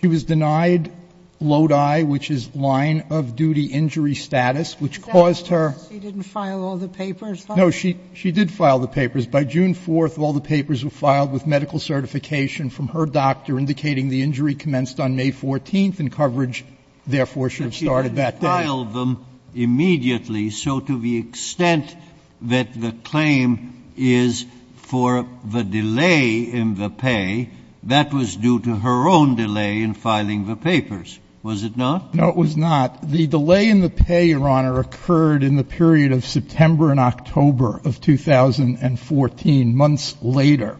She was denied Lodi, which is line-of-duty injury status, which caused her... She didn't file all the papers? No, she did file the papers. By June 4, all the papers were filed with medical certification from her doctor, indicating the injury commenced on May 14, and coverage, therefore, should have started that day. But she didn't file them immediately. So to the extent that the claim is for the delay in the pay, that was due to her own delay in filing the papers, was it not? No, it was not. The delay in the pay, Your Honor, occurred in the period of September and October of 2014, months later.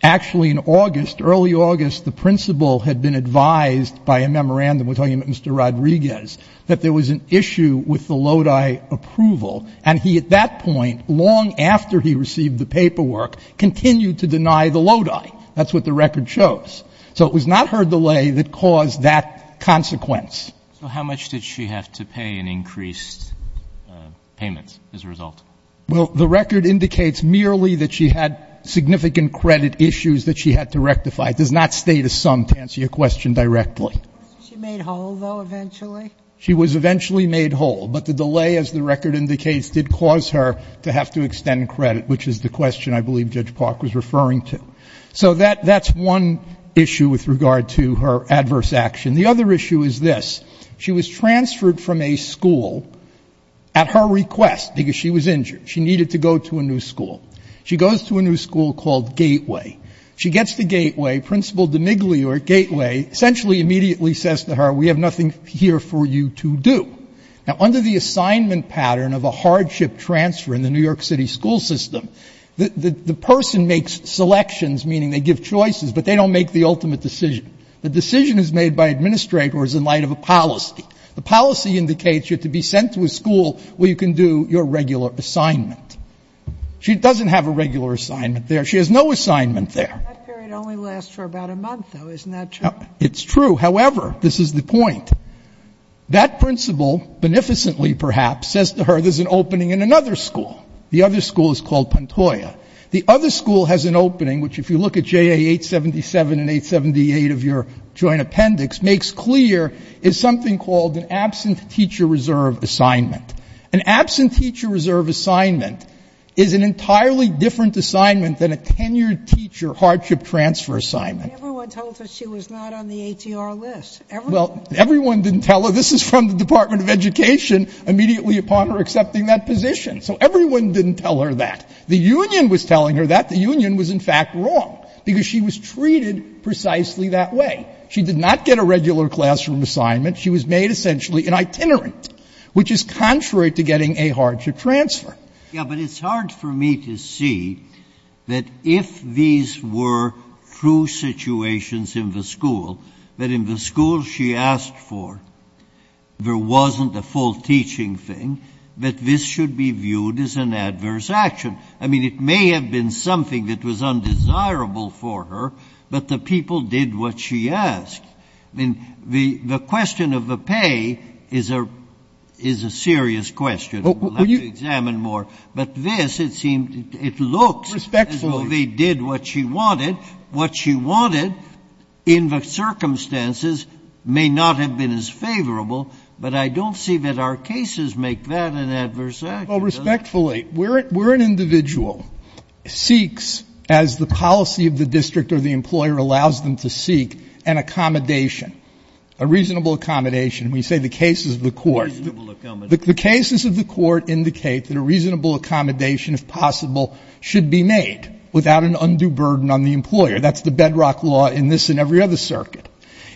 Actually, in August, early August, the principal had been advised by a memorandum with Mr. Rodriguez that there was an issue with the Lodi approval, and he, at that point, long after he received the paperwork, continued to deny the Lodi. That's what the record shows. So it was not her delay that caused that consequence. So how much did she have to pay in increased payments as a result? Well, the record indicates merely that she had significant credit issues that she had to rectify. It does not state a sum to answer your question directly. Was she made whole, though, eventually? She was eventually made whole. But the delay, as the record indicates, did cause her to have to extend credit, which is the question I believe Judge Park was referring to. So that's one issue with regard to her adverse action. The other issue is this. She was transferred from a school at her request because she was injured. She needed to go to a new school. She goes to a new school called Gateway. She gets to Gateway. Principal DeMiglia at Gateway essentially immediately says to her, we have nothing here for you to do. Now, under the assignment pattern of a hardship transfer in the New York City school system, the person makes selections, meaning they give choices, but they don't make the ultimate decision. The decision is made by administrators in light of a policy. The policy indicates you're to be sent to a school where you can do your regular assignment. She doesn't have a regular assignment there. She has no assignment there. That period only lasts for about a month, though. Isn't that true? It's true. However, this is the point. That principal, beneficently perhaps, says to her there's an opening in another school. The other school is called Pantoja. The other school has an opening, which, if you look at JA 877 and 878 of your joint appendix, makes clear is something called an absent teacher reserve assignment. An absent teacher reserve assignment is an entirely different assignment than a tenured teacher hardship transfer assignment. But everyone told her she was not on the ATR list. Well, everyone didn't tell her. This is from the Department of Education immediately upon her accepting that position. So everyone didn't tell her that. The union was telling her that. The union was, in fact, wrong, because she was treated precisely that way. She did not get a regular classroom assignment. She was made essentially an itinerant, which is contrary to getting a hardship transfer. Breyer. Yeah, but it's hard for me to see that if these were true situations in the school, that in the school she asked for, there wasn't a full teaching thing, that this should be viewed as an adverse action. I mean, it may have been something that was undesirable for her, but the people did what she asked. I mean, the question of the pay is a serious question. We'll have to examine more. But this, it seemed, it looks as though they did what she wanted. What she wanted in the circumstances may not have been as favorable, but I don't see that our cases make that an adverse action. Well, respectfully, where an individual seeks, as the policy of the district or the employer allows them to seek, an accommodation, a reasonable accommodation. We say the cases of the court. Reasonable accommodation. The cases of the court indicate that a reasonable accommodation, if possible, should be made without an undue burden on the employer. That's the bedrock law in this and every other circuit.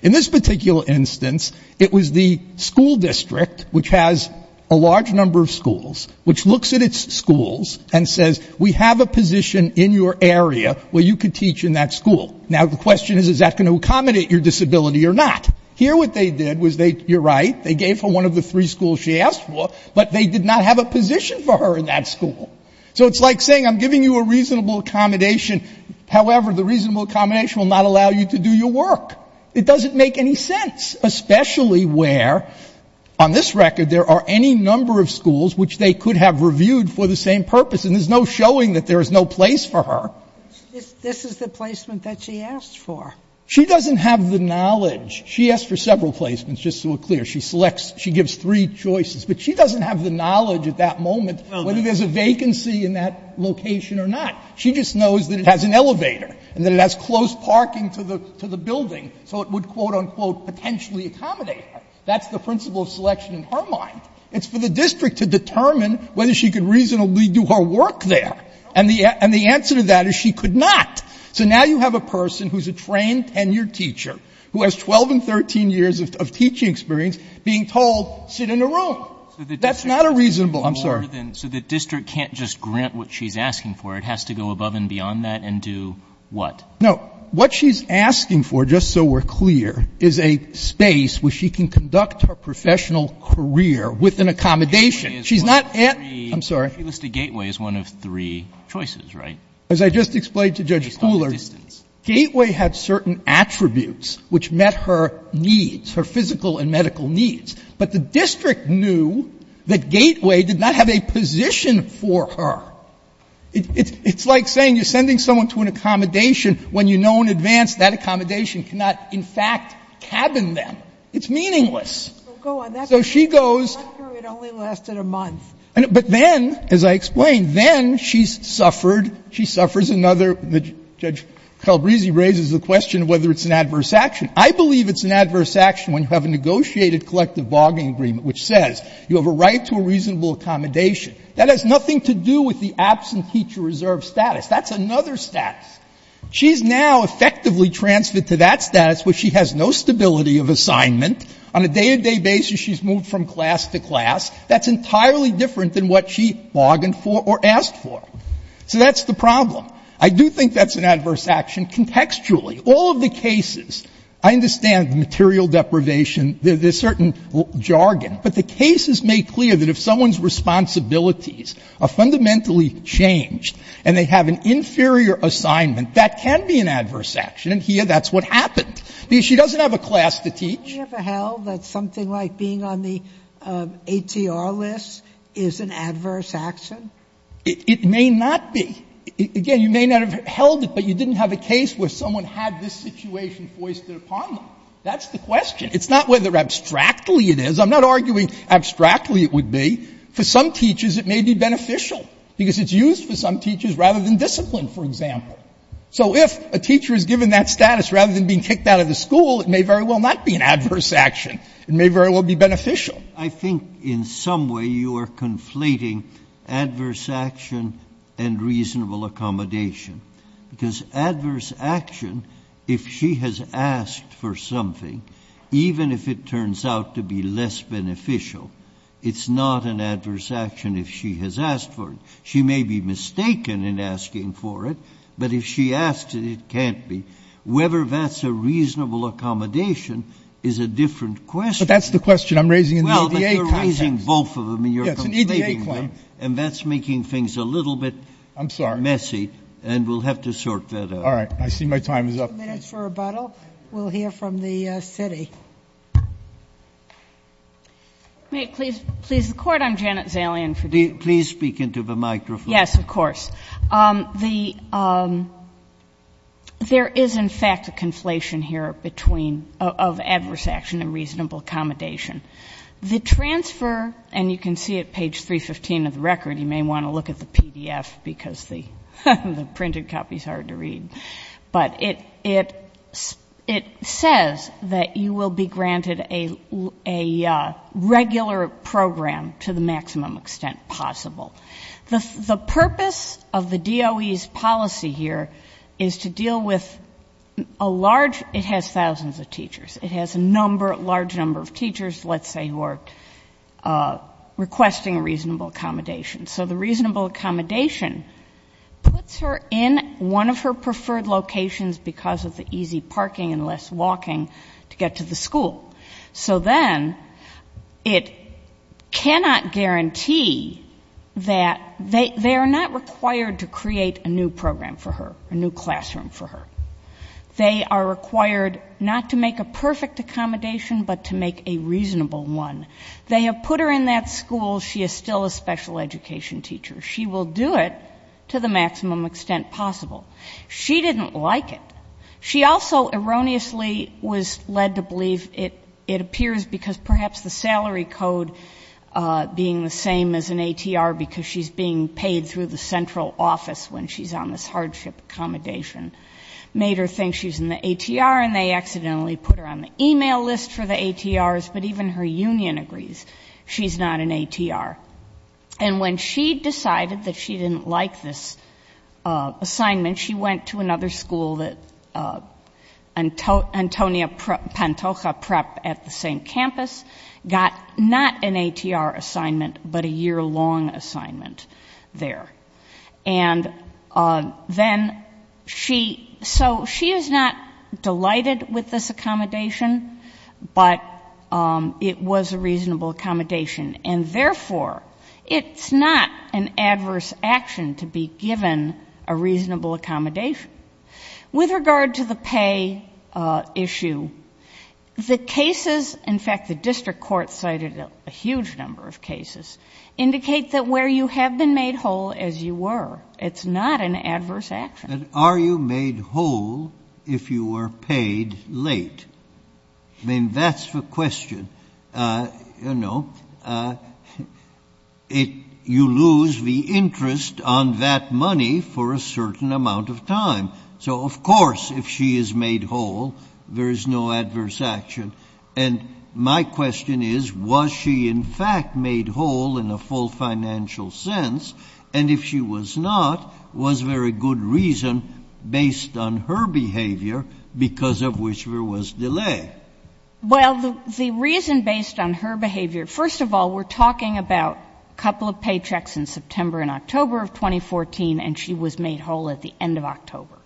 In this particular instance, it was the school district, which has a large number of schools, which looks at its schools and says, we have a position in your area where you could teach in that school. Now, the question is, is that going to accommodate your disability or not? Here what they did was they, you're right, they gave her one of the three schools she asked for, but they did not have a position for her in that school. So it's like saying, I'm giving you a reasonable accommodation. However, the reasonable accommodation will not allow you to do your work. It doesn't make any sense, especially where, on this record, there are any number of schools which they could have reviewed for the same purpose, and there's no showing that there is no place for her. This is the placement that she asked for. She doesn't have the knowledge. She asked for several placements, just so we're clear. She selects, she gives three choices. But she doesn't have the knowledge at that moment whether there's a vacancy in that location or not. She just knows that it has an elevator and that it has close parking to the building, so it would, quote, unquote, potentially accommodate her. That's the principle of selection in her mind. It's for the district to determine whether she could reasonably do her work there. And the answer to that is she could not. So now you have a person who's a trained, tenured teacher, who has 12 and 13 years of teaching experience, being told, sit in a room. That's not a reasonable, I'm sorry. So the district can't just grant what she's asking for. It has to go above and beyond that and do what? No. What she's asking for, just so we're clear, is a space where she can conduct her professional career with an accommodation. She's not at, I'm sorry. She listed Gateway as one of three choices, right? As I just explained to Judge Cooler, Gateway had certain attributes which met her needs, her physical and medical needs. But the district knew that Gateway did not have a position for her. It's like saying you're sending someone to an accommodation when you know in advance that accommodation cannot, in fact, cabin them. It's meaningless. So she goes. But then, as I explained, then she's suffered. She suffers another. Judge Calabresi raises the question of whether it's an adverse action. I believe it's an adverse action when you have a negotiated collective bargaining agreement which says you have a right to a reasonable accommodation. That has nothing to do with the absent teacher reserve status. That's another status. She's now effectively transferred to that status where she has no stability of assignment. On a day-to-day basis, she's moved from class to class. That's entirely different than what she bargained for or asked for. So that's the problem. I do think that's an adverse action. And contextually, all of the cases, I understand material deprivation, there's certain jargon. But the case is made clear that if someone's responsibilities are fundamentally changed and they have an inferior assignment, that can be an adverse action. And here, that's what happened. Because she doesn't have a class to teach. Sotomayor, that's something like being on the ATR list is an adverse action? It may not be. Again, you may not have held it, but you didn't have a case where someone had this situation foisted upon them. That's the question. It's not whether abstractly it is. I'm not arguing abstractly it would be. For some teachers, it may be beneficial, because it's used for some teachers rather than discipline, for example. So if a teacher is given that status, rather than being kicked out of the school, it may very well not be an adverse action. It may very well be beneficial. I think in some way you are conflating adverse action and reasonable accommodation. Because adverse action, if she has asked for something, even if it turns out to be less beneficial, it's not an adverse action if she has asked for it. She may be mistaken in asking for it, but if she asks it, it can't be. Whether that's a reasonable accommodation is a different question. But that's the question I'm raising in the EDA context. Well, but you're raising both of them and you're conflating them. Yes, it's an EDA claim. And that's making things a little bit messy. I'm sorry. And we'll have to sort that out. All right. I see my time is up. Two minutes for rebuttal. We'll hear from the city. May it please the Court? I'm Janet Zalian. Please speak into the microphone. Yes, of course. There is, in fact, a conflation here between of adverse action and reasonable accommodation. The transfer, and you can see it page 315 of the record. You may want to look at the PDF because the printed copy is hard to read. But it says that you will be granted a regular program to the maximum extent possible. The purpose of the DOE's policy here is to deal with a large, it has thousands of teachers. It has a large number of teachers, let's say, who are requesting reasonable accommodation. So the reasonable accommodation puts her in one of her preferred locations because of the easy parking and less walking to get to the school. So then it cannot guarantee that they are not required to create a new program for her, a new classroom for her. They are required not to make a perfect accommodation but to make a reasonable one. They have put her in that school. She is still a special education teacher. She will do it to the maximum extent possible. She didn't like it. She also erroneously was led to believe it appears because perhaps the salary code being the same as an ATR because she's being paid through the central office when she's on this hardship accommodation made her think she's in the ATR and they accidentally put her on the email list for the ATRs. But even her union agrees she's not in ATR. And when she decided that she didn't like this assignment, then she went to another school, Antonia Pantoja Prep at the same campus, got not an ATR assignment but a year-long assignment there. So she is not delighted with this accommodation, but it was a reasonable accommodation. And therefore, it's not an adverse action to be given a reasonable accommodation. With regard to the pay issue, the cases, in fact, the district court cited a huge number of cases, indicate that where you have been made whole as you were, it's not an adverse action. Are you made whole if you are paid late? I mean, that's the question. You lose the interest on that money for a certain amount of time. So, of course, if she is made whole, there is no adverse action. And my question is, was she in fact made whole in a full financial sense? And if she was not, was there a good reason based on her behavior because of which there was delay? Well, the reason based on her behavior, first of all, we're talking about a couple of paychecks in September and October of 2014, and she was made whole at the end of October.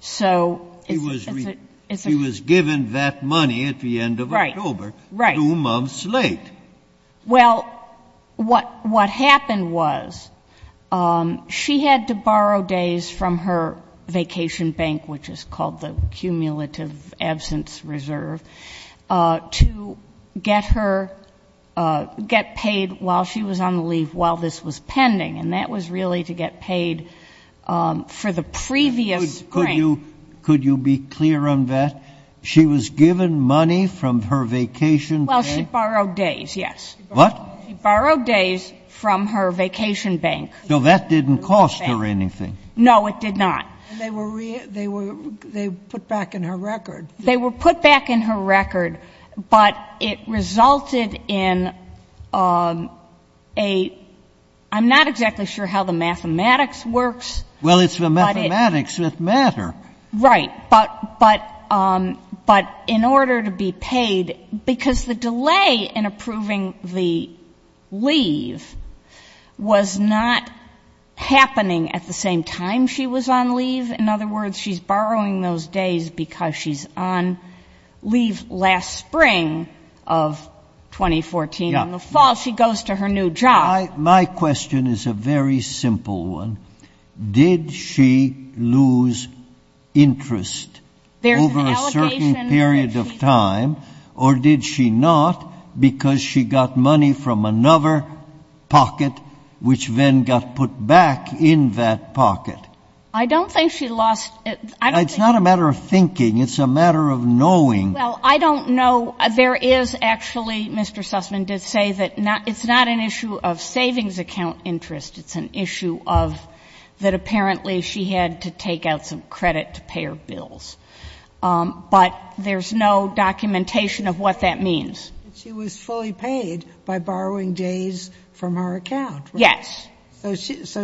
So is it real? She was given that money at the end of October, two months late. Well, what happened was she had to borrow days from her vacation bank, which is called the Cumulative Absence Reserve, to get her, get paid while she was on leave, while this was pending, and that was really to get paid for the previous spring. Could you be clear on that? She was given money from her vacation bank? Well, she borrowed days, yes. What? She borrowed days from her vacation bank. So that didn't cost her anything? No, it did not. They were put back in her record. They were put back in her record, but it resulted in a — I'm not exactly sure how the mathematics works. Well, it's the mathematics that matter. Right. But in order to be paid, because the delay in approving the leave was not happening at the same time she was on leave. In other words, she's borrowing those days because she's on leave last spring of 2014. In the fall, she goes to her new job. My question is a very simple one. Did she lose interest over a certain period of time, or did she not, because she got money from another pocket, which then got put back in that pocket? I don't think she lost — It's not a matter of thinking. It's a matter of knowing. Well, I don't know. There is, actually, Mr. Sussman did say that it's not an issue of savings account interest. It's an issue of — that apparently she had to take out some credit to pay her bills. But there's no documentation of what that means. She was fully paid by borrowing days from her account, right? Yes. So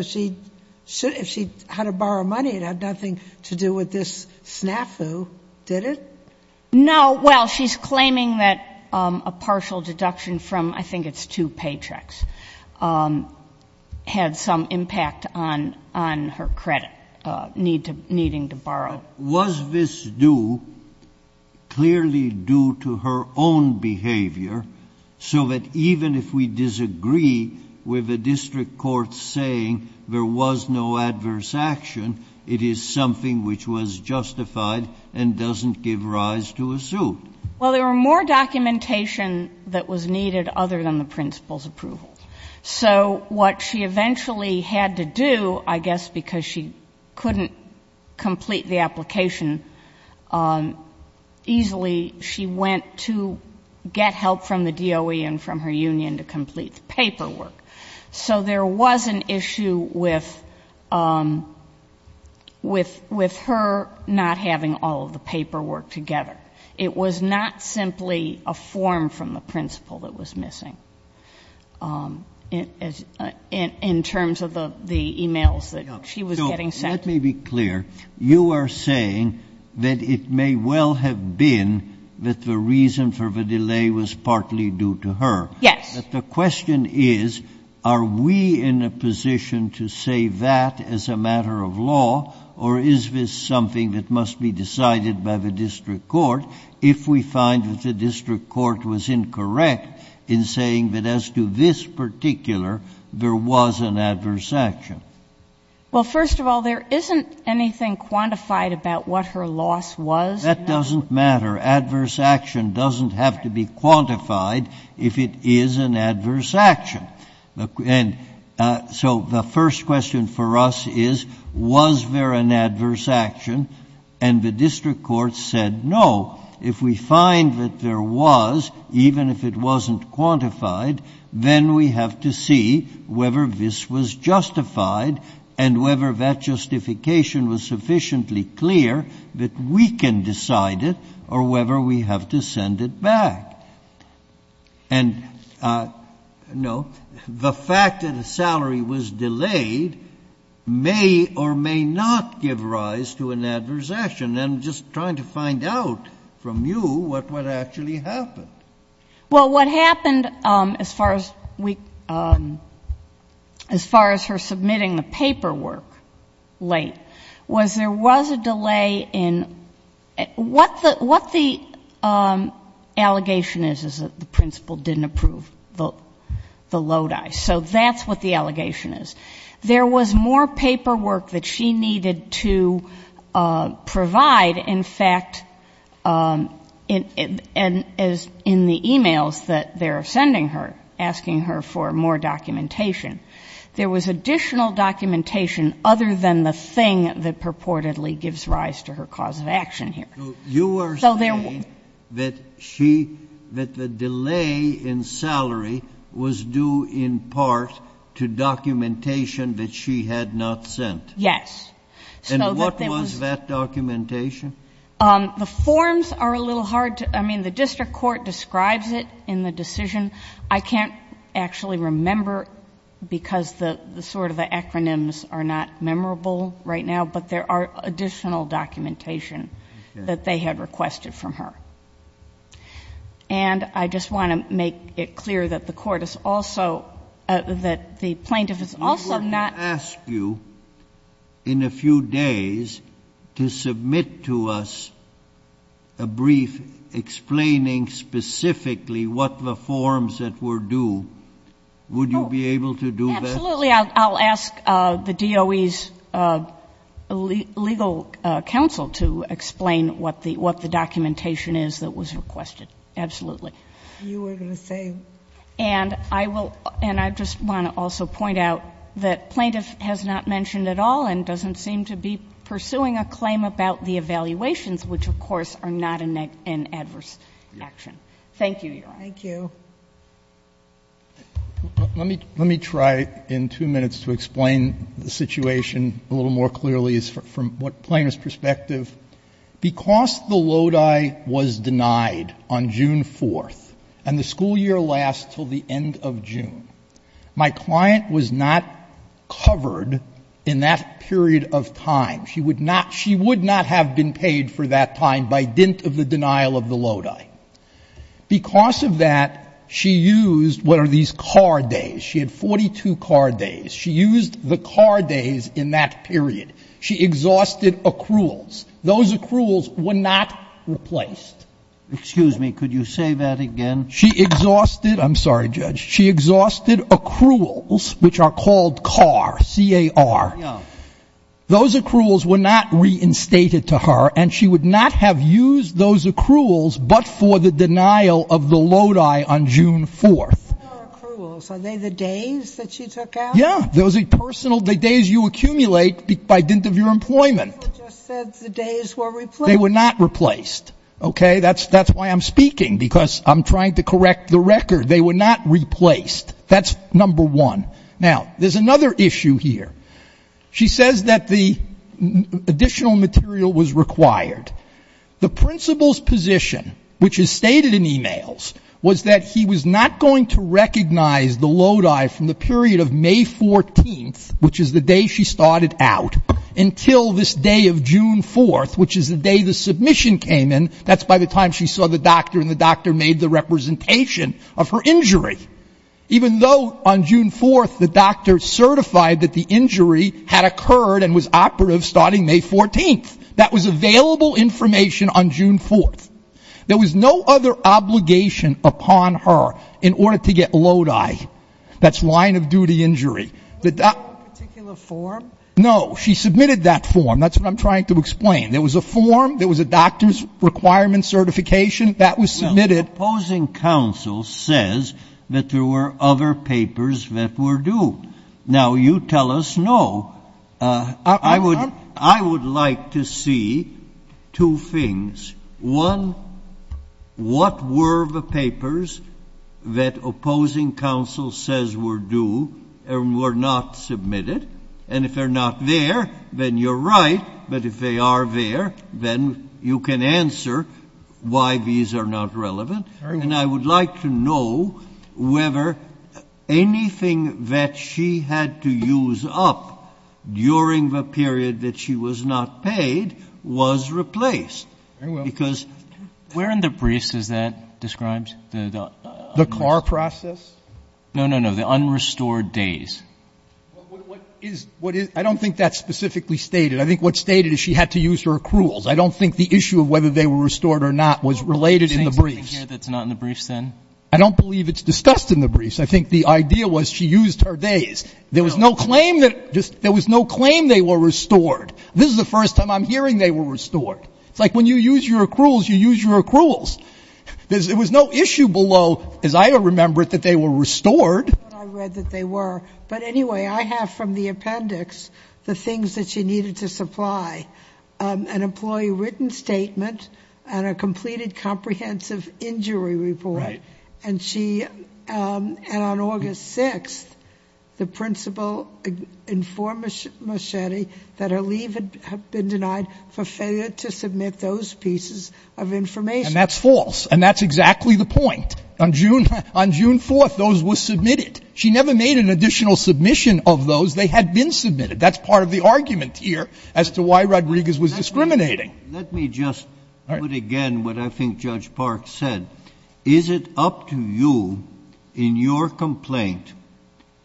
she — if she had to borrow money, it had nothing to do with this snafu, did it? No. Well, she's claiming that a partial deduction from, I think it's two paychecks, had some impact on her credit, needing to borrow. Was this due, clearly due to her own behavior, so that even if we disagree with a district court saying there was no adverse action, it is something which was justified and doesn't give rise to a suit? Well, there were more documentation that was needed other than the principal's approval. So what she eventually had to do, I guess because she couldn't complete the application easily, she went to get help from the DOE and from her union to complete the paperwork. So there was an issue with her not having all of the paperwork together. It was not simply a form from the principal that was missing in terms of the emails that she was getting sent. So let me be clear. You are saying that it may well have been that the reason for the delay was partly due to her. Yes. But the question is, are we in a position to say that as a matter of law, or is this something that must be decided by the district court if we find that the district court was incorrect in saying that as to this particular, there was an adverse action? Well, first of all, there isn't anything quantified about what her loss was. That doesn't matter. Adverse action doesn't have to be quantified if it is an adverse action. So the first question for us is, was there an adverse action? And the district court said no. If we find that there was, even if it wasn't quantified, then we have to see whether this was justified and whether that justification was sufficiently clear that we can decide it or whether we have to send it back. And, no, the fact that a salary was delayed may or may not give rise to an adverse action. And I'm just trying to find out from you what actually happened. Well, what happened as far as her submitting the paperwork late was there was a additional documentation other than the thing that purportedly gives rise to her cause of action here. Okay. Okay. Okay. Okay. Okay. Okay. Okay. Okay. Okay. Okay. So you are saying that she, that the delay in salary was due in part to documentation that she had not sent? Yes. And what was that documentation? The forms are a little hard to, I mean, the district court describes it in the decision. I can't actually remember because the sort of the acronyms are not memorable right now, but there are additional documentation that they had requested from her. And I just want to make it clear that the court is also, that the plaintiff is also not. I'm going to ask you in a few days to submit to us a brief explaining specifically what the forms that were due, would you be able to do that? Absolutely. I'll ask the DOE's legal counsel to explain what the documentation is that was requested. Absolutely. You were going to say. And I will, and I just want to also point out that plaintiff has not mentioned at all and doesn't seem to be pursuing a claim about the evaluations, which of course are not an adverse action. Thank you, Your Honor. Thank you. Let me, let me try in two minutes to explain the situation a little more clearly from what plaintiff's perspective. Because the Lodi was denied on June 4th and the school year lasts until the end of June, my client was not covered in that period of time. She would not, she would not have been paid for that time by dint of the denial of the Lodi. Because of that, she used, what are these, car days. She had 42 car days. She used the car days in that period. She exhausted accruals. Those accruals were not replaced. Excuse me. Could you say that again? She exhausted, I'm sorry, Judge. She exhausted accruals, which are called CAR, C-A-R. Those accruals were not reinstated to her and she would not have used those accruals but for the denial of the Lodi on June 4th. Car accruals. Are they the days that she took out? Yeah. Those are personal, the days you accumulate by dint of your employment. You just said the days were replaced. They were not replaced. Okay. That's, that's why I'm speaking because I'm trying to correct the record. They were not replaced. That's number one. Now, there's another issue here. She says that the additional material was required. The principal's position, which is stated in e-mails, was that he was not going to recognize the Lodi from the period of May 14th, which is the day she started out, until this day of June 4th, which is the day the submission came in. That's by the time she saw the doctor and the doctor made the representation of her injury. Even though on June 4th the doctor certified that the injury had occurred and was operative starting May 14th. That was available information on June 4th. There was no other obligation upon her in order to get Lodi. That's line of duty injury. Was there a particular form? No. She submitted that form. That's what I'm trying to explain. There was a form. There was a doctor's requirement certification. That was submitted. Well, the opposing counsel says that there were other papers that were due. Now, you tell us no. I would like to see two things. One, what were the papers that opposing counsel says were due and were not submitted? And if they're not there, then you're right. But if they are there, then you can answer why these are not relevant. And I would like to know whether anything that she had to use up during the period that she was not paid was replaced. Very well. Where in the briefs is that described? The car process? No, no, no, the unrestored days. I don't think that's specifically stated. I think what's stated is she had to use her accruals. I don't think the issue of whether they were restored or not was related in the briefs. I don't believe it's discussed in the briefs. I think the idea was she used her days. There was no claim that they were restored. This is the first time I'm hearing they were restored. It's like when you use your accruals, you use your accruals. There was no issue below, as I remember it, that they were restored. I read that they were. But anyway, I have from the appendix the things that she needed to supply, an employee written statement and a completed comprehensive injury report. Right. And she, and on August 6th, the principal informed Moschetti that her leave had been denied for failure to submit those pieces of information. And that's false, and that's exactly the point. On June 4th, those were submitted. She never made an additional submission of those. They had been submitted. That's part of the argument here as to why Rodriguez was discriminating. Let me just put again what I think Judge Park said. Is it up to you in your complaint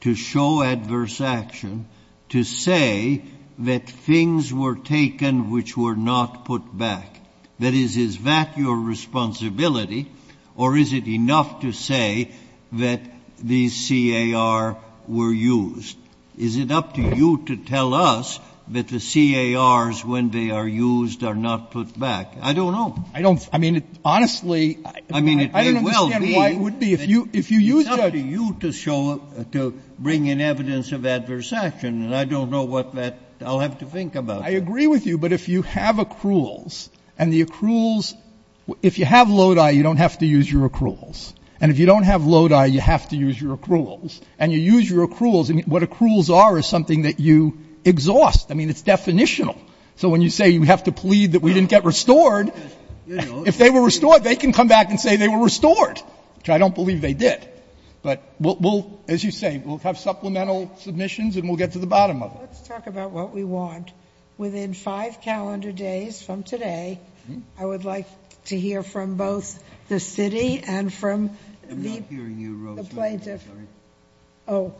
to show adverse action to say that things were taken which were not put back? That is, is that your responsibility, or is it enough to say that these CAR were used? Is it up to you to tell us that the CARs, when they are used, are not put back? I don't know. I don't. I mean, honestly, I don't understand why it would be. I mean, it may well be. If you used it. It's up to you to show, to bring in evidence of adverse action. And I don't know what that, I'll have to think about that. I agree with you. But if you have accruals, and the accruals, if you have Lodi, you don't have to use your accruals. And if you don't have Lodi, you have to use your accruals. And you use your accruals. I mean, what accruals are is something that you exhaust. I mean, it's definitional. So when you say you have to plead that we didn't get restored, if they were restored, they can come back and say they were restored, which I don't believe they did. But we'll, as you say, we'll have supplemental submissions and we'll get to the bottom of it. Let's talk about what we want. Within five calendar days from today, I would like to hear from both the city and from the plaintiffs. Oh,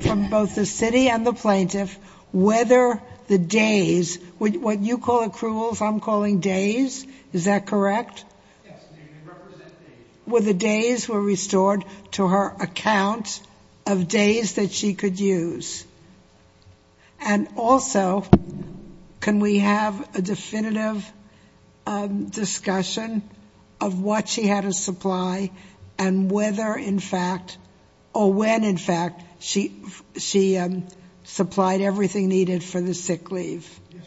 from both the city and the plaintiff, whether the days, what you call accruals, I'm calling days. Is that correct? Yes. They represent days. Were the days were restored to her account of days that she could use. And also, can we have a definitive discussion of what she had to supply and whether, in fact, or when, in fact, she supplied everything needed for the sick leave? Yes, Your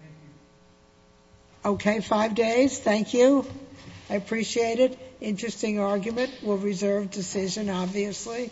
Honor. Thank you. Okay. Five days. Thank you. I appreciate it. Interesting argument. We'll reserve decision, obviously.